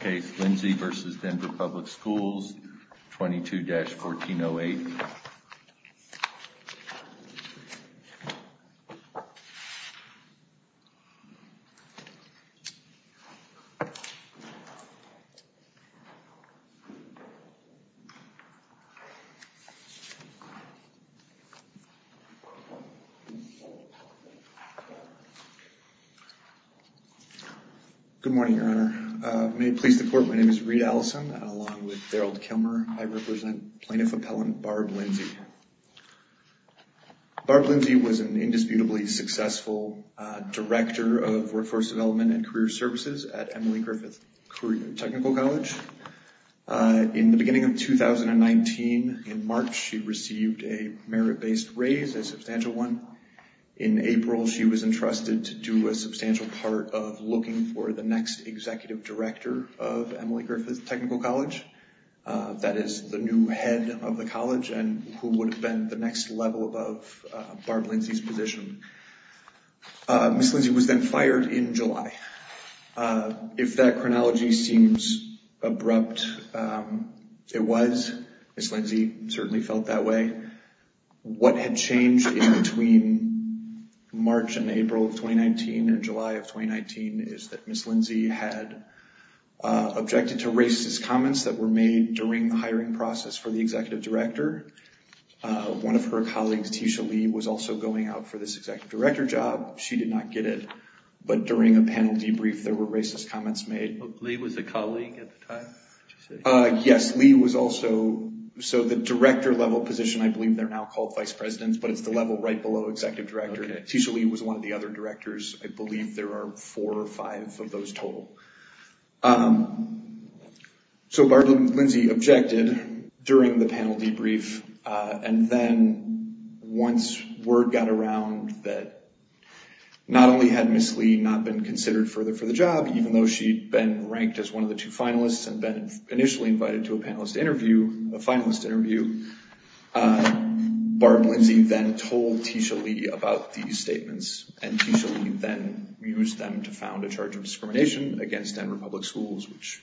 case, Lindsay v. Denver Public Schools, 22-1408. Good morning, Your Honor. May it please the court, my name is Reid Allison, along with Daryl Kilmer. I represent Plaintiff Appellant Barb Lindsay. Barb Lindsay was an indisputably successful Director of Workforce Development and Career Services at Emily Griffith Technical College. In the beginning of 2019, in March, she received a merit-based raise, a substantial one. In April, she was entrusted to do a substantial part of looking for the next Executive Director of Emily Griffith Technical College, that is, the new head of the college and who would have been the next level above Barb Lindsay's position. Ms. Lindsay was then fired in July. If that chronology seems abrupt, it was. Ms. Lindsay certainly felt that way. What had changed in between March and April of 2019 and July of 2019 is that Ms. Lindsay had objected to racist comments that were made during the hiring process for the Executive Director. One of her colleagues, Tisha Lee, was also going out for this Executive Director job. She did not get it, but during a panel debrief, there were racist comments made. Lee was a colleague at the time, did you say? Yes. Ms. Lee was also, so the director-level position, I believe they're now called Vice Presidents, but it's the level right below Executive Director. Tisha Lee was one of the other directors. I believe there are four or five of those total. So Barb Lindsay objected during the panel debrief, and then once word got around that not only had Ms. Lee not been considered for the job, even though she'd been ranked as one of the two finalists and been initially invited to a panelist interview, a finalist interview, Barb Lindsay then told Tisha Lee about these statements, and Tisha Lee then used them to found a charge of discrimination against Denver Public Schools, which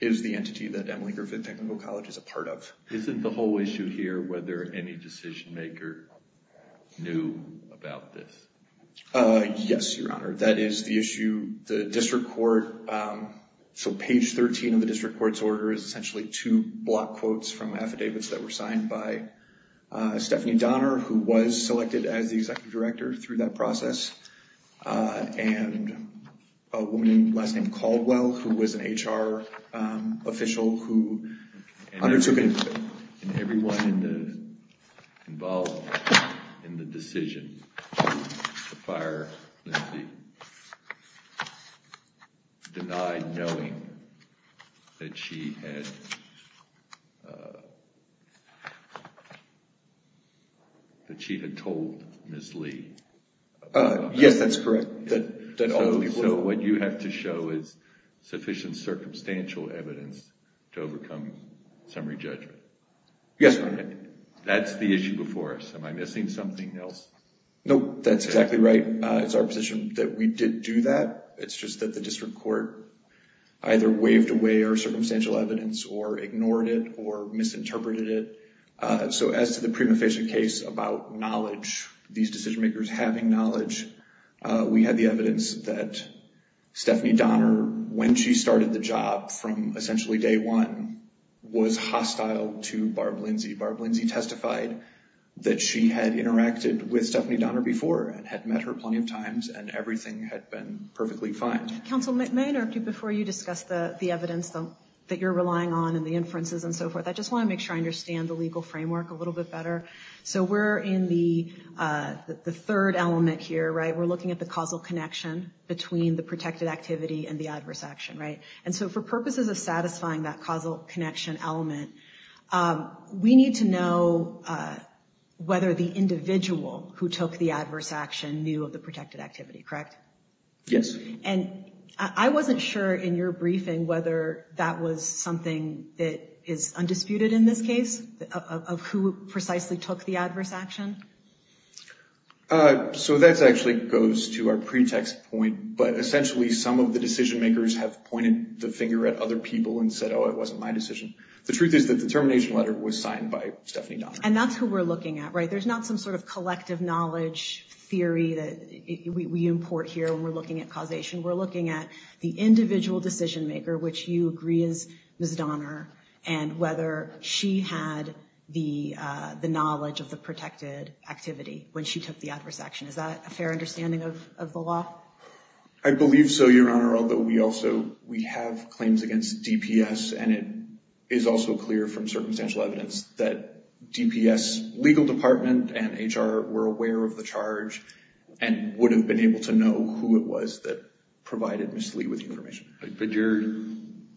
is the entity that Emily Griffith Technical College is a part of. Isn't the whole issue here whether any decision maker knew about this? Yes, Your Honor. That is the issue, the district court, so page 13 of the district court's order is essentially two block quotes from affidavits that were signed by Stephanie Donner, who was selected as the Executive Director through that process, and a woman last name Caldwell, who was an HR official who undertook- And everyone involved in the decision, the fire, denied knowing that she had told Ms. Lee. Yes, that's correct. So what you have to show is sufficient circumstantial evidence to overcome summary judgment. Yes, Your Honor. That's the issue before us. Am I missing something else? No, that's exactly right. It's our position that we didn't do that. It's just that the district court either waved away our circumstantial evidence or ignored it or misinterpreted it. So as to the prima facie case about knowledge, these decision makers having knowledge, we have the evidence that Stephanie Donner, when she started the job from essentially day one, was hostile to Barb Lindsey. Barb Lindsey testified that she had interacted with Stephanie Donner before and had met her plenty of times and everything had been perfectly fine. Counsel, may I interrupt you before you discuss the evidence that you're relying on and the inferences and so forth? I just want to make sure I understand the legal framework a little bit better. So we're in the third element here, right? The causal connection between the protected activity and the adverse action, right? And so for purposes of satisfying that causal connection element, we need to know whether the individual who took the adverse action knew of the protected activity, correct? Yes. And I wasn't sure in your briefing whether that was something that is undisputed in this case of who precisely took the adverse action? So that actually goes to our pretext point, but essentially some of the decision makers have pointed the finger at other people and said, oh, it wasn't my decision. The truth is that the termination letter was signed by Stephanie Donner. And that's who we're looking at, right? There's not some sort of collective knowledge theory that we import here when we're looking at causation. We're looking at the individual decision maker, which you agree is Ms. Donner, and whether she had the knowledge of the protected activity when she took the adverse action. Is that a fair understanding of the law? I believe so, Your Honor, although we also have claims against DPS, and it is also clear from circumstantial evidence that DPS legal department and HR were aware of the charge and would have been able to know who it was that provided Ms. Lee with the information. But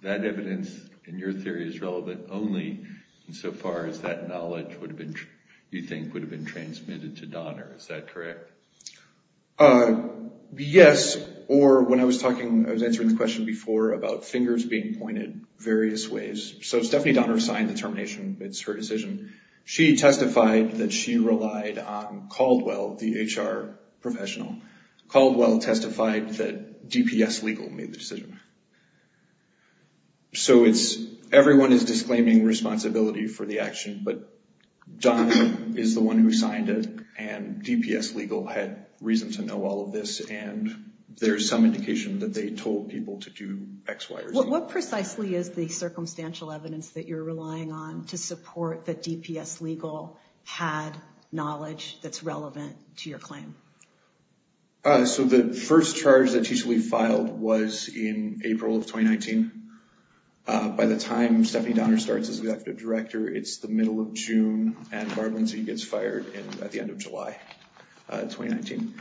that evidence in your theory is relevant only insofar as that knowledge you think would have been transmitted to Donner, is that correct? Yes, or when I was talking, I was answering the question before about fingers being pointed various ways. So Stephanie Donner signed the termination, it's her decision. She testified that she relied on Caldwell, the HR professional. Caldwell testified that DPS legal made the decision. So everyone is disclaiming responsibility for the action, but Donner is the one who signed it, and DPS legal had reason to know all of this, and there's some indication that they told people to do X, Y, or Z. What precisely is the circumstantial evidence that you're relying on to support that DPS legal had knowledge that's relevant to your claim? So the first charge that T.C. Lee filed was in April of 2019. By the time Stephanie Donner starts as executive director, it's the middle of June, and Barber and T.C. gets fired at the end of July 2019.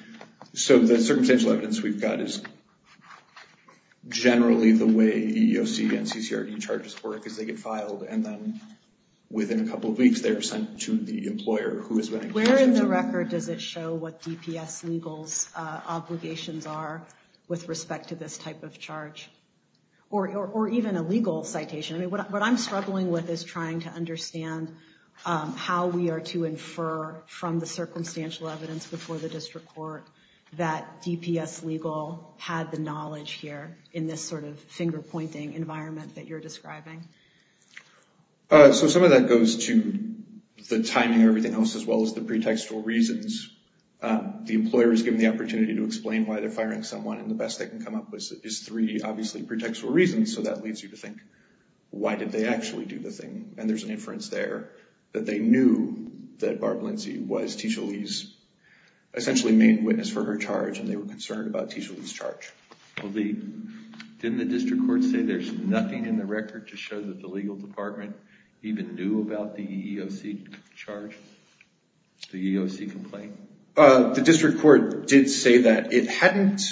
So the circumstantial evidence we've got is generally the way EEOC and CCRD charges work, because they get filed, and then within a couple of weeks, they're sent to the employer who is running the agency. Where in the record does it show what DPS legal's obligations are with respect to this type of charge? Or even a legal citation? What I'm struggling with is trying to understand how we are to infer from the circumstantial evidence before the district court that DPS legal had the knowledge here in this sort of pointing environment that you're describing. So some of that goes to the timing of everything else, as well as the pretextual reasons. The employer is given the opportunity to explain why they're firing someone, and the best they can come up with is three, obviously, pretextual reasons. So that leads you to think, why did they actually do the thing? And there's an inference there that they knew that Barber Lindsey was T.C. Lee's essentially main witness for her charge, and they were concerned about T.C. Lee's charge. Well, didn't the district court say there's nothing in the record to show that the legal department even knew about the EEOC charge, the EEOC complaint? The district court did say that. It hadn't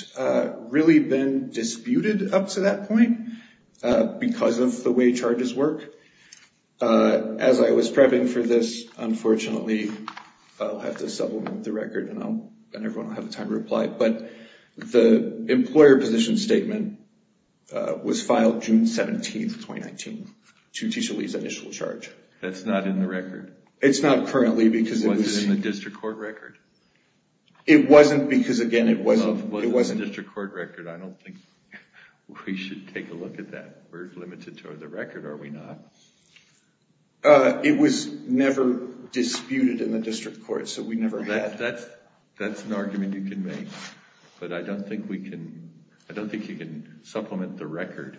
really been disputed up to that point, because of the way charges work. As I was prepping for this, unfortunately, I'll have to supplement the record, and everyone will have the time to reply, but the employer position statement was filed June 17th, 2019, to T.C. Lee's initial charge. That's not in the record? It's not currently, because it was... It wasn't in the district court record? It wasn't, because again, it wasn't... Well, it was in the district court record. I don't think we should take a look at that. We're limited toward the record, are we not? It was never disputed in the district court, so we never had... That's an argument you can make, but I don't think you can supplement the record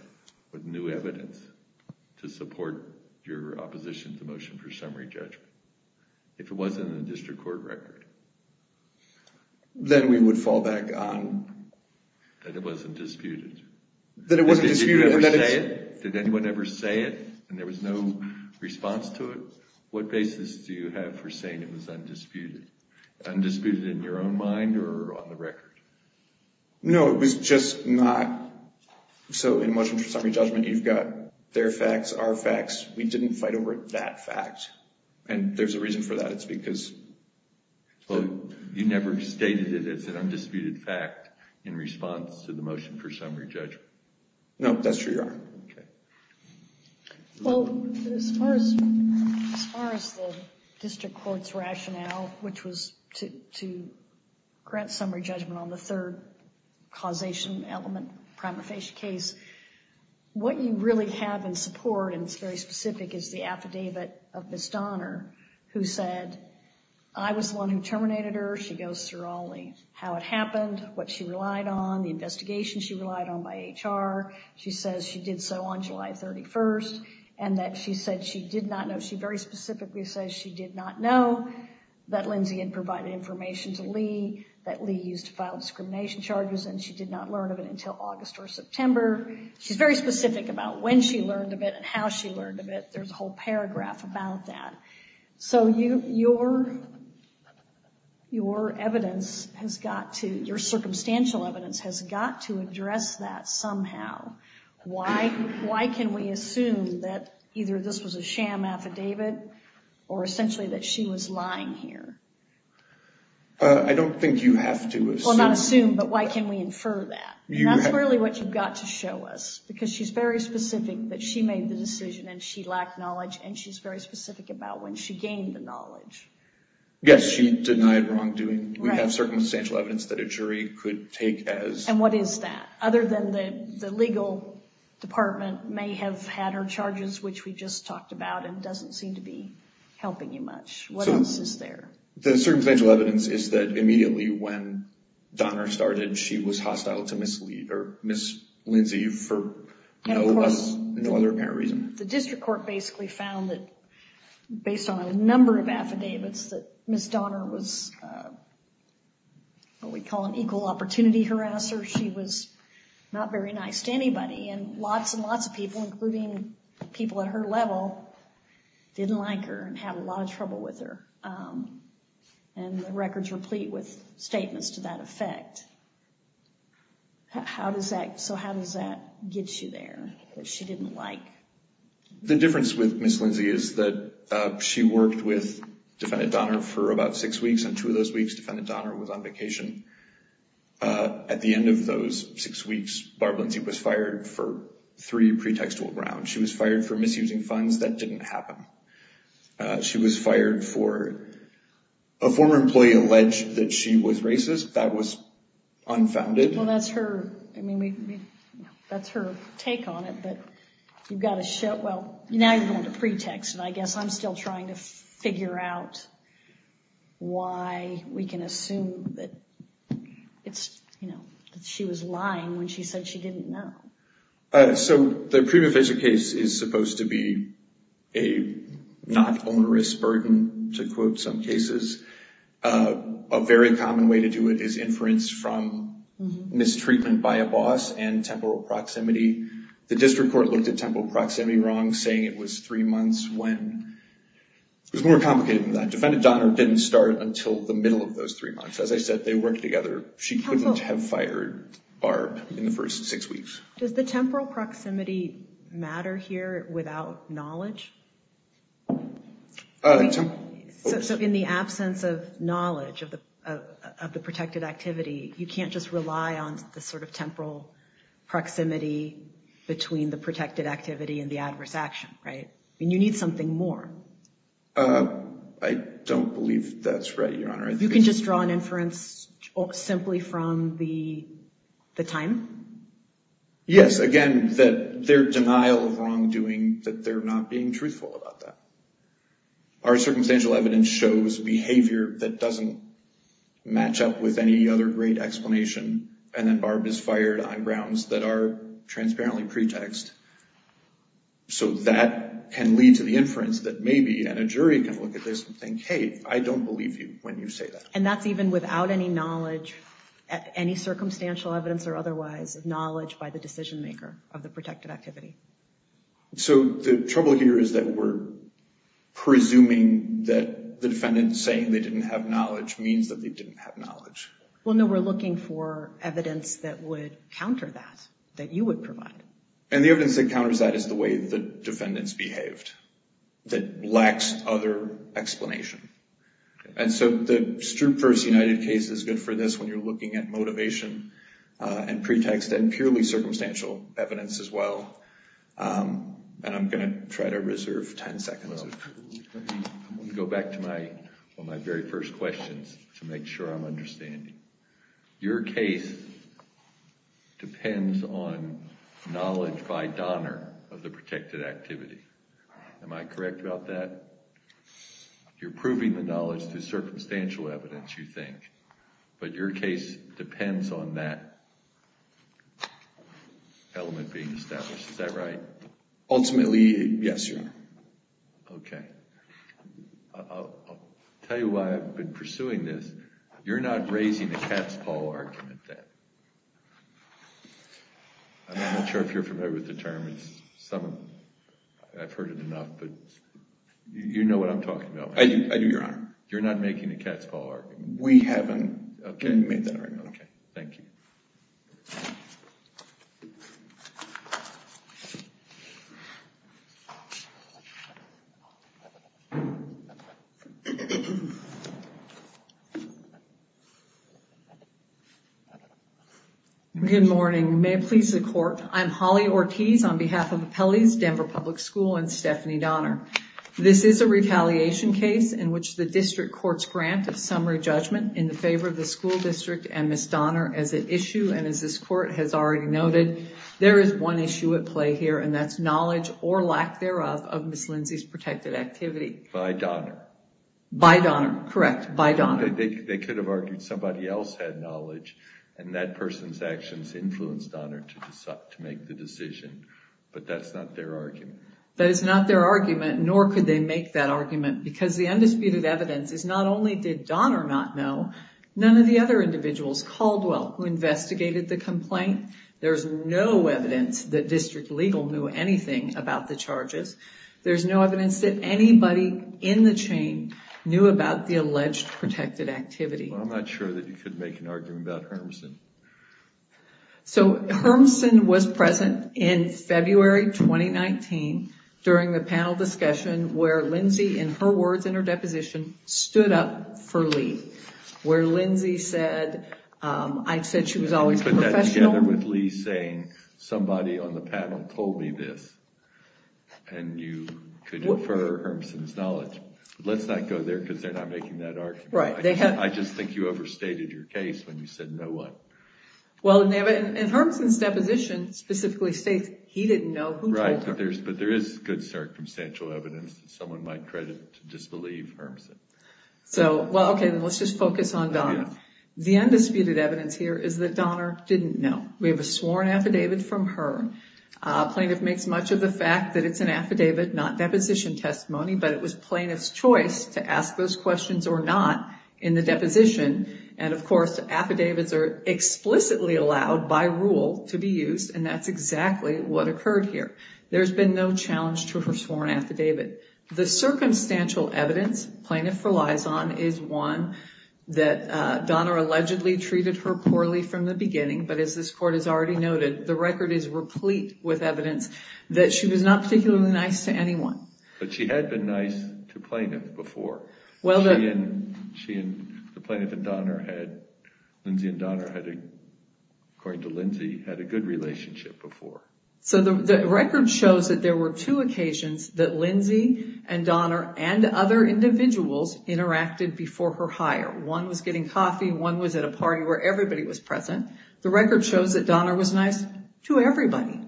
with new evidence to support your opposition to the motion for summary judgment. If it wasn't in the district court record... Then we would fall back on... That it wasn't disputed. That it wasn't disputed, that it's... Did you ever say it? Did anyone ever say it, and there was no response to it? What basis do you have for saying it was undisputed? Undisputed in your own mind, or on the record? No, it was just not... So in motion for summary judgment, you've got their facts, our facts. We didn't fight over that fact, and there's a reason for that. It's because... Well, you never stated it as an undisputed fact in response to the motion for summary judgment? No, that's true, Your Honor. Okay. Well, as far as the district court's rationale, which was to grant summary judgment on the third causation element, prima facie case, what you really have in support, and it's very specific, is the affidavit of Ms. Donner, who said, I was the one who terminated her. She goes through all the... How it happened, what she relied on, the investigation she relied on by HR. She says she did so on July 31st, and that she said she did not know... She very specifically says she did not know that Lindsey had provided information to Lee, that Lee used to file discrimination charges, and she did not learn of it until August or September. She's very specific about when she learned of it and how she learned of it. There's a whole paragraph about that. So your evidence has got to... Your circumstantial evidence has got to address that somehow. Why can we assume that either this was a sham affidavit or essentially that she was lying here? I don't think you have to assume. Well, not assume, but why can we infer that? And that's really what you've got to show us, because she's very specific that she made the decision and she lacked knowledge, and she's very specific about when she gained the knowledge. Yes, she denied wrongdoing. We have circumstantial evidence that a jury could take as... And what is that? Other than the legal department may have had her charges, which we just talked about, and doesn't seem to be helping you much. What else is there? The circumstantial evidence is that immediately when Donner started, she was hostile to Ms. Lindsey for no other apparent reason. The district court basically found that based on a number of affidavits that Ms. Donner was what we call an equal opportunity harasser. She was not very nice to anybody, and lots and lots of people, including people at her level, didn't like her and had a lot of trouble with her. So how does that get you there, that she didn't like? The difference with Ms. Lindsey is that she worked with Defendant Donner for about six weeks, and two of those weeks, Defendant Donner was on vacation. At the end of those six weeks, Barbara Lindsey was fired for three pretextual grounds. She was fired for misusing funds. That didn't happen. She was fired for... A former employee alleged that she was racist. That was unfounded. Well, that's her take on it, but you've got to show... Well, now you're going to pretext, and I guess I'm still trying to figure out why we can assume that she was lying when she said she didn't know. So the prima facie case is supposed to be a not onerous burden, to quote some cases. A very common way to do it is inference from mistreatment by a boss and temporal proximity. The district court looked at temporal proximity wrong, saying it was three months when... It was more complicated than that. Defendant Donner didn't start until the middle of those three months. As I said, they worked together. She couldn't have fired Barb in the first six weeks. Does the temporal proximity matter here without knowledge? So in the absence of knowledge of the protected activity, you can't just rely on the sort of temporal proximity between the protected activity and the adverse action, right? I mean, you need something more. I don't believe that's right, Your Honor. You can just draw an inference simply from the time? Yes, again, that their denial of wrongdoing, that they're not being truthful about that. Our circumstantial evidence shows behavior that doesn't match up with any other great explanation, and then Barb is fired on grounds that are transparently pretext. So that can lead to the inference that maybe, and a jury can look at this and think, hey, I don't believe you when you say that. And that's even without any knowledge, any circumstantial evidence or otherwise, of knowledge by the decision maker of the protected activity. So the trouble here is that we're presuming that the defendant saying they didn't have knowledge means that they didn't have knowledge. Well, no, we're looking for evidence that would counter that, that you would provide. And the evidence that counters that is the way the defendant's behaved, that lacks other explanation. And so the Strupe v. United case is good for this when you're looking at motivation and pretext and purely circumstantial evidence as well, and I'm going to try to reserve ten seconds. I'm going to go back to one of my very first questions to make sure I'm understanding. Your case depends on knowledge by Donner of the protected activity. Am I correct about that? You're proving the knowledge through circumstantial evidence, you think, but your case depends on that element being established. Is that right? Ultimately, yes, Your Honor. Okay. I'll tell you why I've been pursuing this. You're not raising a cat's paw argument then. I'm not sure if you're familiar with the term. I've heard it enough, but you know what I'm talking about. I do, Your Honor. You're not making a cat's paw argument. We haven't. Okay. We haven't made that argument. Thank you. Good morning. May it please the Court. I'm Holly Ortiz on behalf of Appellee's Denver Public School and Stephanie Donner. This is a retaliation case in which the district court's grant of summary judgment in favor of the school district and Ms. Donner as an issue, and as this court has already noted, there is one issue at play here, and that's knowledge or lack thereof of Ms. Lindsay's protected activity. By Donner. By Donner. Correct. By Donner. They could have argued somebody else had knowledge, and that person's actions influenced Donner to decide, to make the decision, but that's not their argument. That is not their argument, nor could they make that argument, because the undisputed evidence is not only did Donner not know, none of the other individuals, Caldwell who investigated the complaint, there's no evidence that district legal knew anything about the charges. There's no evidence that anybody in the chain knew about the alleged protected activity. Well, I'm not sure that you could make an argument about Hermsen. So, Hermsen was present in February 2019 during the panel discussion where Lindsay, in her words in her deposition, stood up for Lee, where Lindsay said, I said she was always professional. You put that together with Lee saying, somebody on the panel told me this, and you could infer Hermsen's knowledge. Let's not go there, because they're not making that argument. Right. I just think you overstated your case when you said know what. Well, and Hermsen's deposition specifically states he didn't know who told him. Right, but there is good circumstantial evidence that someone might credit to disbelieve Hermsen. So, well, okay, let's just focus on Donner. The undisputed evidence here is that Donner didn't know. We have a sworn affidavit from her. Plaintiff makes much of the fact that it's an affidavit, not deposition testimony, but it was plaintiff's choice to ask those questions or not in the deposition, and of course, affidavits are explicitly allowed by rule to be used, and that's exactly what occurred here. There's been no challenge to her sworn affidavit. The circumstantial evidence plaintiff relies on is one that Donner allegedly treated her poorly from the beginning, but as this court has already noted, the record is replete with evidence that she was not particularly nice to anyone. But she had been nice to plaintiff before. She and, the plaintiff and Donner had, Lindsay and Donner had, according to Lindsay, had a good relationship before. So the record shows that there were two occasions that Lindsay and Donner and other individuals interacted before her hire. One was getting coffee, one was at a party where everybody was present. The record shows that Donner was nice to everybody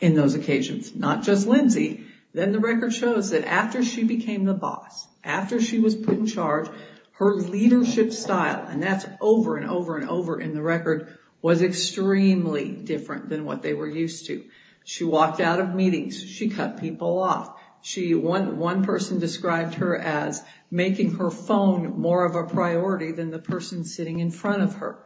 in those occasions, not just Lindsay. Then the record shows that after she became the boss, after she was put in charge, her leadership style, and that's over and over and over in the record, was extremely different than what they were used to. She walked out of meetings. She cut people off. One person described her as making her phone more of a priority than the person sitting in front of her.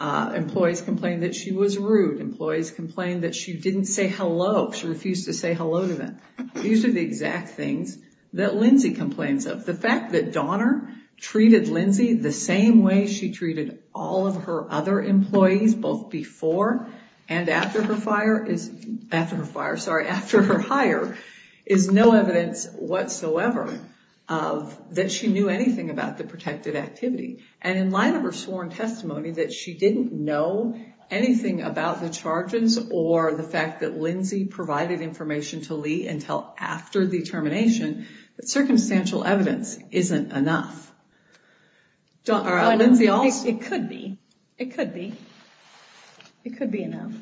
Employees complained that she was rude. Employees complained that she didn't say hello. She refused to say hello to them. These are the exact things that Lindsay complains of. The fact that Donner treated Lindsay the same way she treated all of her other employees, both before and after her fire, sorry, after her hire, is no evidence whatsoever that she knew anything about the protected activity. And in light of her sworn testimony that she didn't know anything about the charges or the fact that Lindsay provided information to Lee until after the termination, that circumstantial evidence isn't enough. Donner, or Lindsay also... It could be. It could be. It could be enough.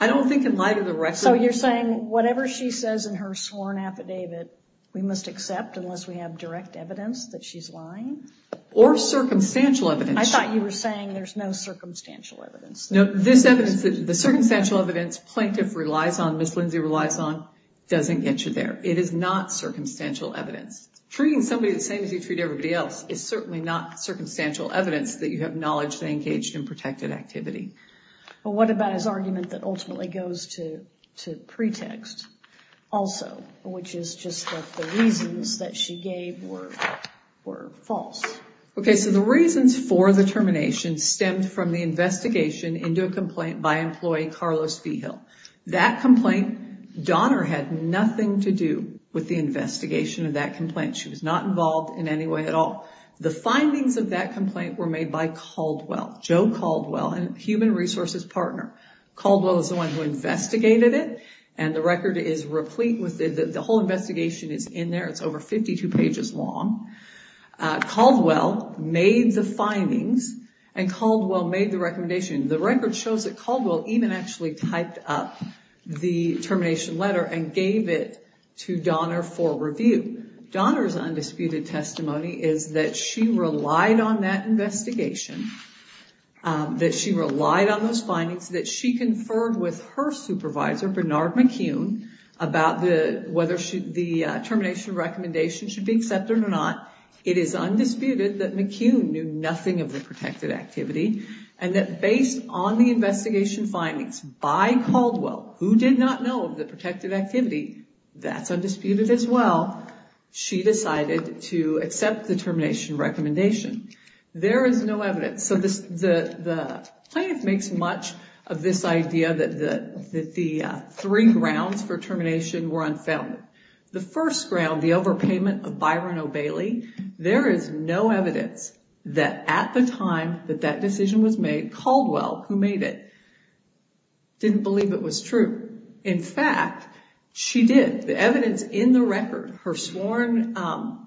I don't think in light of the record... So you're saying whatever she says in her sworn affidavit, we must accept unless we have direct evidence that she's lying? Or circumstantial evidence. I thought you were saying there's no circumstantial evidence. No, this evidence, the circumstantial evidence plaintiff relies on, Ms. Lindsay relies on, doesn't get you there. It is not circumstantial evidence. Treating somebody the same as you treat everybody else is certainly not circumstantial evidence that you have knowledge they engaged in protected activity. What about his argument that ultimately goes to pretext also, which is just that the reasons that she gave were false? Okay, so the reasons for the termination stemmed from the investigation into a complaint by employee Carlos Vigil. That complaint, Donner had nothing to do with the investigation of that complaint. She was not involved in any way at all. The findings of that complaint were made by Caldwell, Joe Caldwell, a human resources partner. Caldwell is the one who investigated it, and the record is replete with... The whole investigation is in there. It's over 52 pages long. Caldwell made the findings, and Caldwell made the recommendation. The record shows that Caldwell even actually typed up the termination letter and gave it to Donner for review. Donner's undisputed testimony is that she relied on that investigation, that she relied on those findings, that she conferred with her supervisor, Bernard McCune, about whether the termination recommendation should be accepted or not. It is undisputed that McCune knew nothing of the protected activity, and that based on the investigation findings by Caldwell, who did not know of the protected activity, that's undisputed as well. She decided to accept the termination recommendation. There is no evidence, so the plaintiff makes much of this idea that the three grounds for The first ground, the overpayment of Byron O'Bailey, there is no evidence that at the time that that decision was made, Caldwell, who made it, didn't believe it was true. In fact, she did. The evidence in the record, her sworn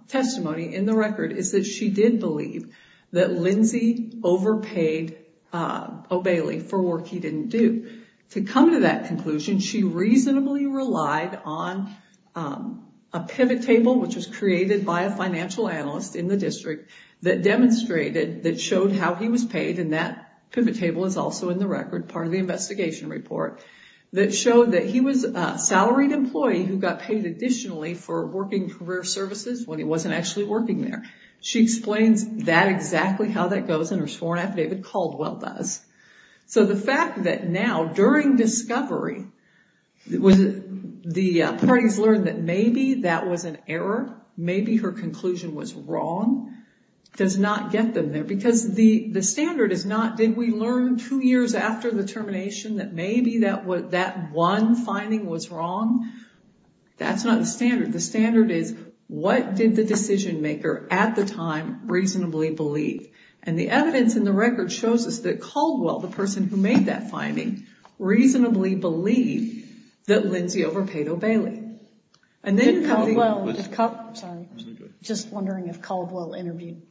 testimony in the record, is that she did believe that Lindsey overpaid O'Bailey for work he didn't do. To come to that conclusion, she reasonably relied on a pivot table, which was created by a financial analyst in the district, that demonstrated, that showed how he was paid, and that pivot table is also in the record, part of the investigation report, that showed that he was a salaried employee who got paid additionally for working career services when he wasn't actually working there. She explains that exactly how that goes in her sworn affidavit, Caldwell does. The fact that now, during discovery, the parties learned that maybe that was an error, maybe her conclusion was wrong, does not get them there, because the standard is not, did we learn two years after the termination that maybe that one finding was wrong? That's not the standard. The standard is, what did the decision maker at the time reasonably believe? The evidence in the record shows us that Caldwell, the person who made that finding, reasonably believed that Lindsey overpaid O'Bailey. And then Caldwell, just wondering if Caldwell interviewed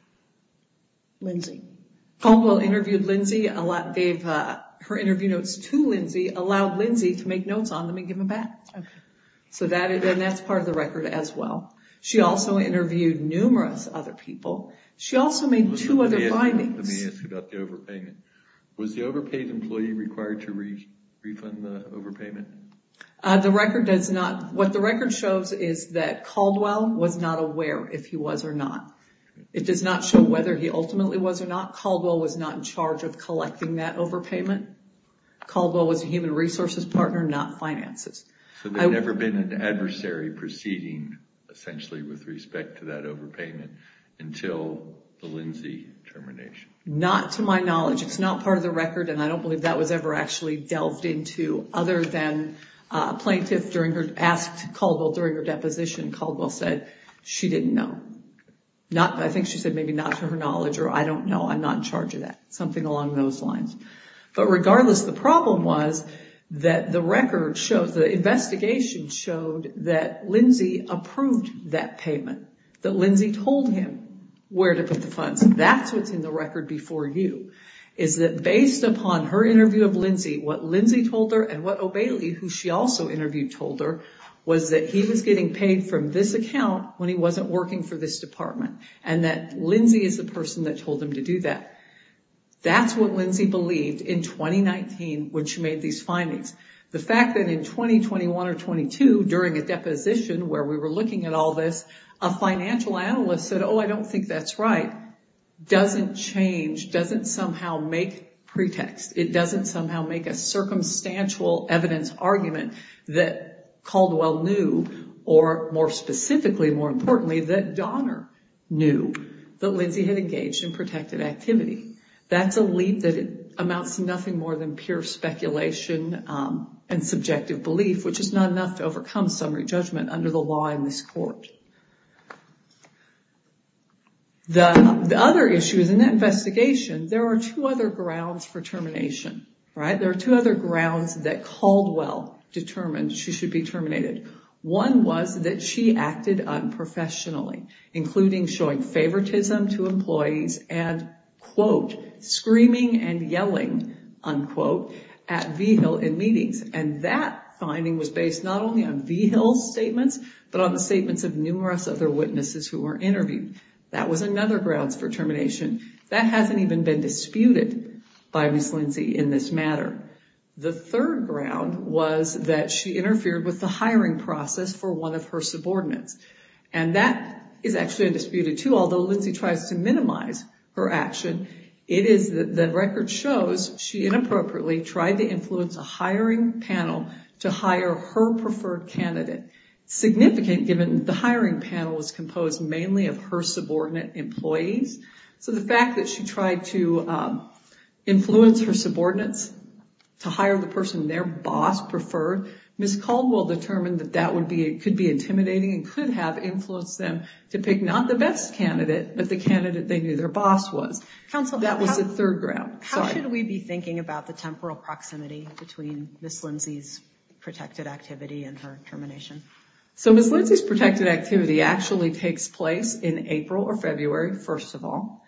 Lindsey? Caldwell interviewed Lindsey, gave her interview notes to Lindsey, allowed Lindsey to make notes on them and give them back. So that's part of the record as well. She also interviewed numerous other people. She also made two other findings. Let me ask about the overpayment. Was the overpaid employee required to refund the overpayment? What the record shows is that Caldwell was not aware if he was or not. It does not show whether he ultimately was or not. Caldwell was not in charge of collecting that overpayment. Caldwell was a human resources partner, not finances. So there had never been an adversary proceeding, essentially, with respect to that overpayment until the Lindsey termination. Not to my knowledge. It's not part of the record and I don't believe that was ever actually delved into, other than a plaintiff asked Caldwell during her deposition, Caldwell said she didn't know. I think she said maybe not to her knowledge or I don't know, I'm not in charge of that. Something along those lines. But regardless, the problem was that the record shows, the investigation showed that Lindsey approved that payment, that Lindsey told him where to put the funds. That's what's in the record before you. Is that based upon her interview of Lindsey, what Lindsey told her and what O'Bailey, who she also interviewed, told her was that he was getting paid from this account when he wasn't working for this department. And that Lindsey is the person that told him to do that. That's what Lindsey believed in 2019 when she made these findings. The fact that in 2021 or 22, during a deposition where we were looking at all this, a financial analyst said, oh, I don't think that's right, doesn't change, doesn't somehow make pretext. It doesn't somehow make a circumstantial evidence argument that Caldwell knew or more specifically, more importantly, that Donner knew that Lindsey had engaged in protected activity. That's a leap that amounts to nothing more than pure speculation and subjective belief, which is not enough to overcome summary judgment under the law in this court. The other issue is in that investigation, there are two other grounds for termination. There are two other grounds that Caldwell determined she should be terminated. One was that she acted unprofessionally, including showing favoritism to employees and, quote, screaming and yelling, unquote, at Vigil in meetings. And that finding was based not only on Vigil's statements, but on the statements of numerous other witnesses who were interviewed. That was another grounds for termination. That hasn't even been disputed by Ms. Lindsey in this matter. The third ground was that she interfered with the hiring process for one of her subordinates. And that is actually undisputed, too, although Lindsey tries to minimize her action. It is that the record shows she inappropriately tried to influence a hiring panel to hire her preferred candidate, significant given the hiring panel was composed mainly of her subordinate employees. So the fact that she tried to influence her subordinates to hire the person their boss preferred, Ms. Caldwell determined that that could be intimidating and could have influenced them to pick not the best candidate, but the candidate they knew their boss was. That was the third ground. Sorry. How should we be thinking about the temporal proximity between Ms. Lindsey's protected activity and her termination? So Ms. Lindsey's protected activity actually takes place in April or February, first of all.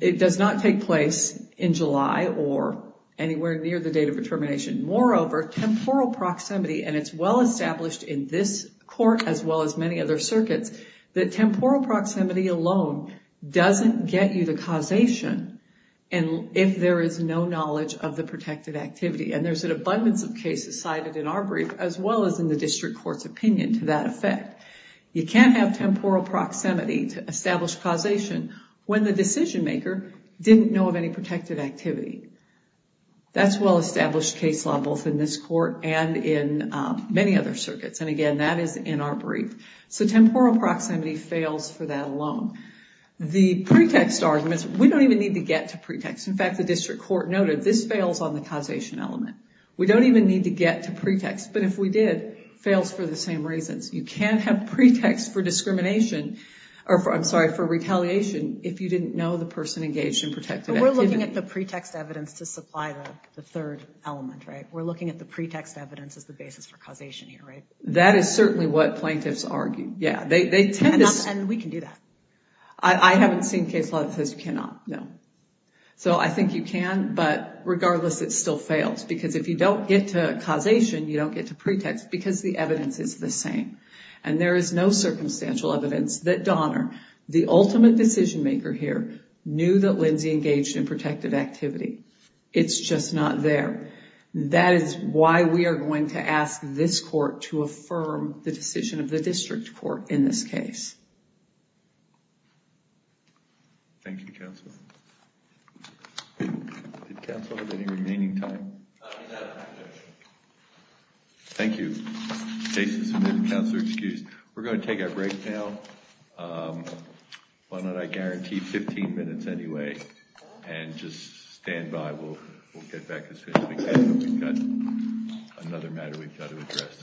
It does not take place in July or anywhere near the date of her termination. Moreover, temporal proximity, and it's well established in this court as well as many other circuits, that temporal proximity alone doesn't get you the causation if there is no knowledge of the protected activity. There's an abundance of cases cited in our brief as well as in the district court's opinion to that effect. You can't have temporal proximity to establish causation when the decision maker didn't know of any protected activity. That's well established case law both in this court and in many other circuits, and again, that is in our brief. So temporal proximity fails for that alone. The pretext arguments, we don't even need to get to pretext. In fact, the district court noted, this fails on the causation element. We don't even need to get to pretext, but if we did, it fails for the same reasons. You can't have pretext for retaliation if you didn't know the person engaged in protected activity. But we're looking at the pretext evidence to supply the third element, right? We're looking at the pretext evidence as the basis for causation here, right? That is certainly what plaintiffs argue, yeah. We can do that. I haven't seen case law that says you cannot, no. So I think you can, but regardless, it still fails. Because if you don't get to causation, you don't get to pretext because the evidence is the same. And there is no circumstantial evidence that Donner, the ultimate decision maker here, knew that Lindsay engaged in protected activity. It's just not there. That is why we are going to ask this court to affirm the decision of the district court in this case. Thank you, counsel. If counsel have any remaining time? Thank you. Jason, so we've had counsel excused. We're going to take a break now. Why don't I guarantee 15 minutes anyway, and just stand by. We'll get back in a second. I think we've got another matter we've got to address.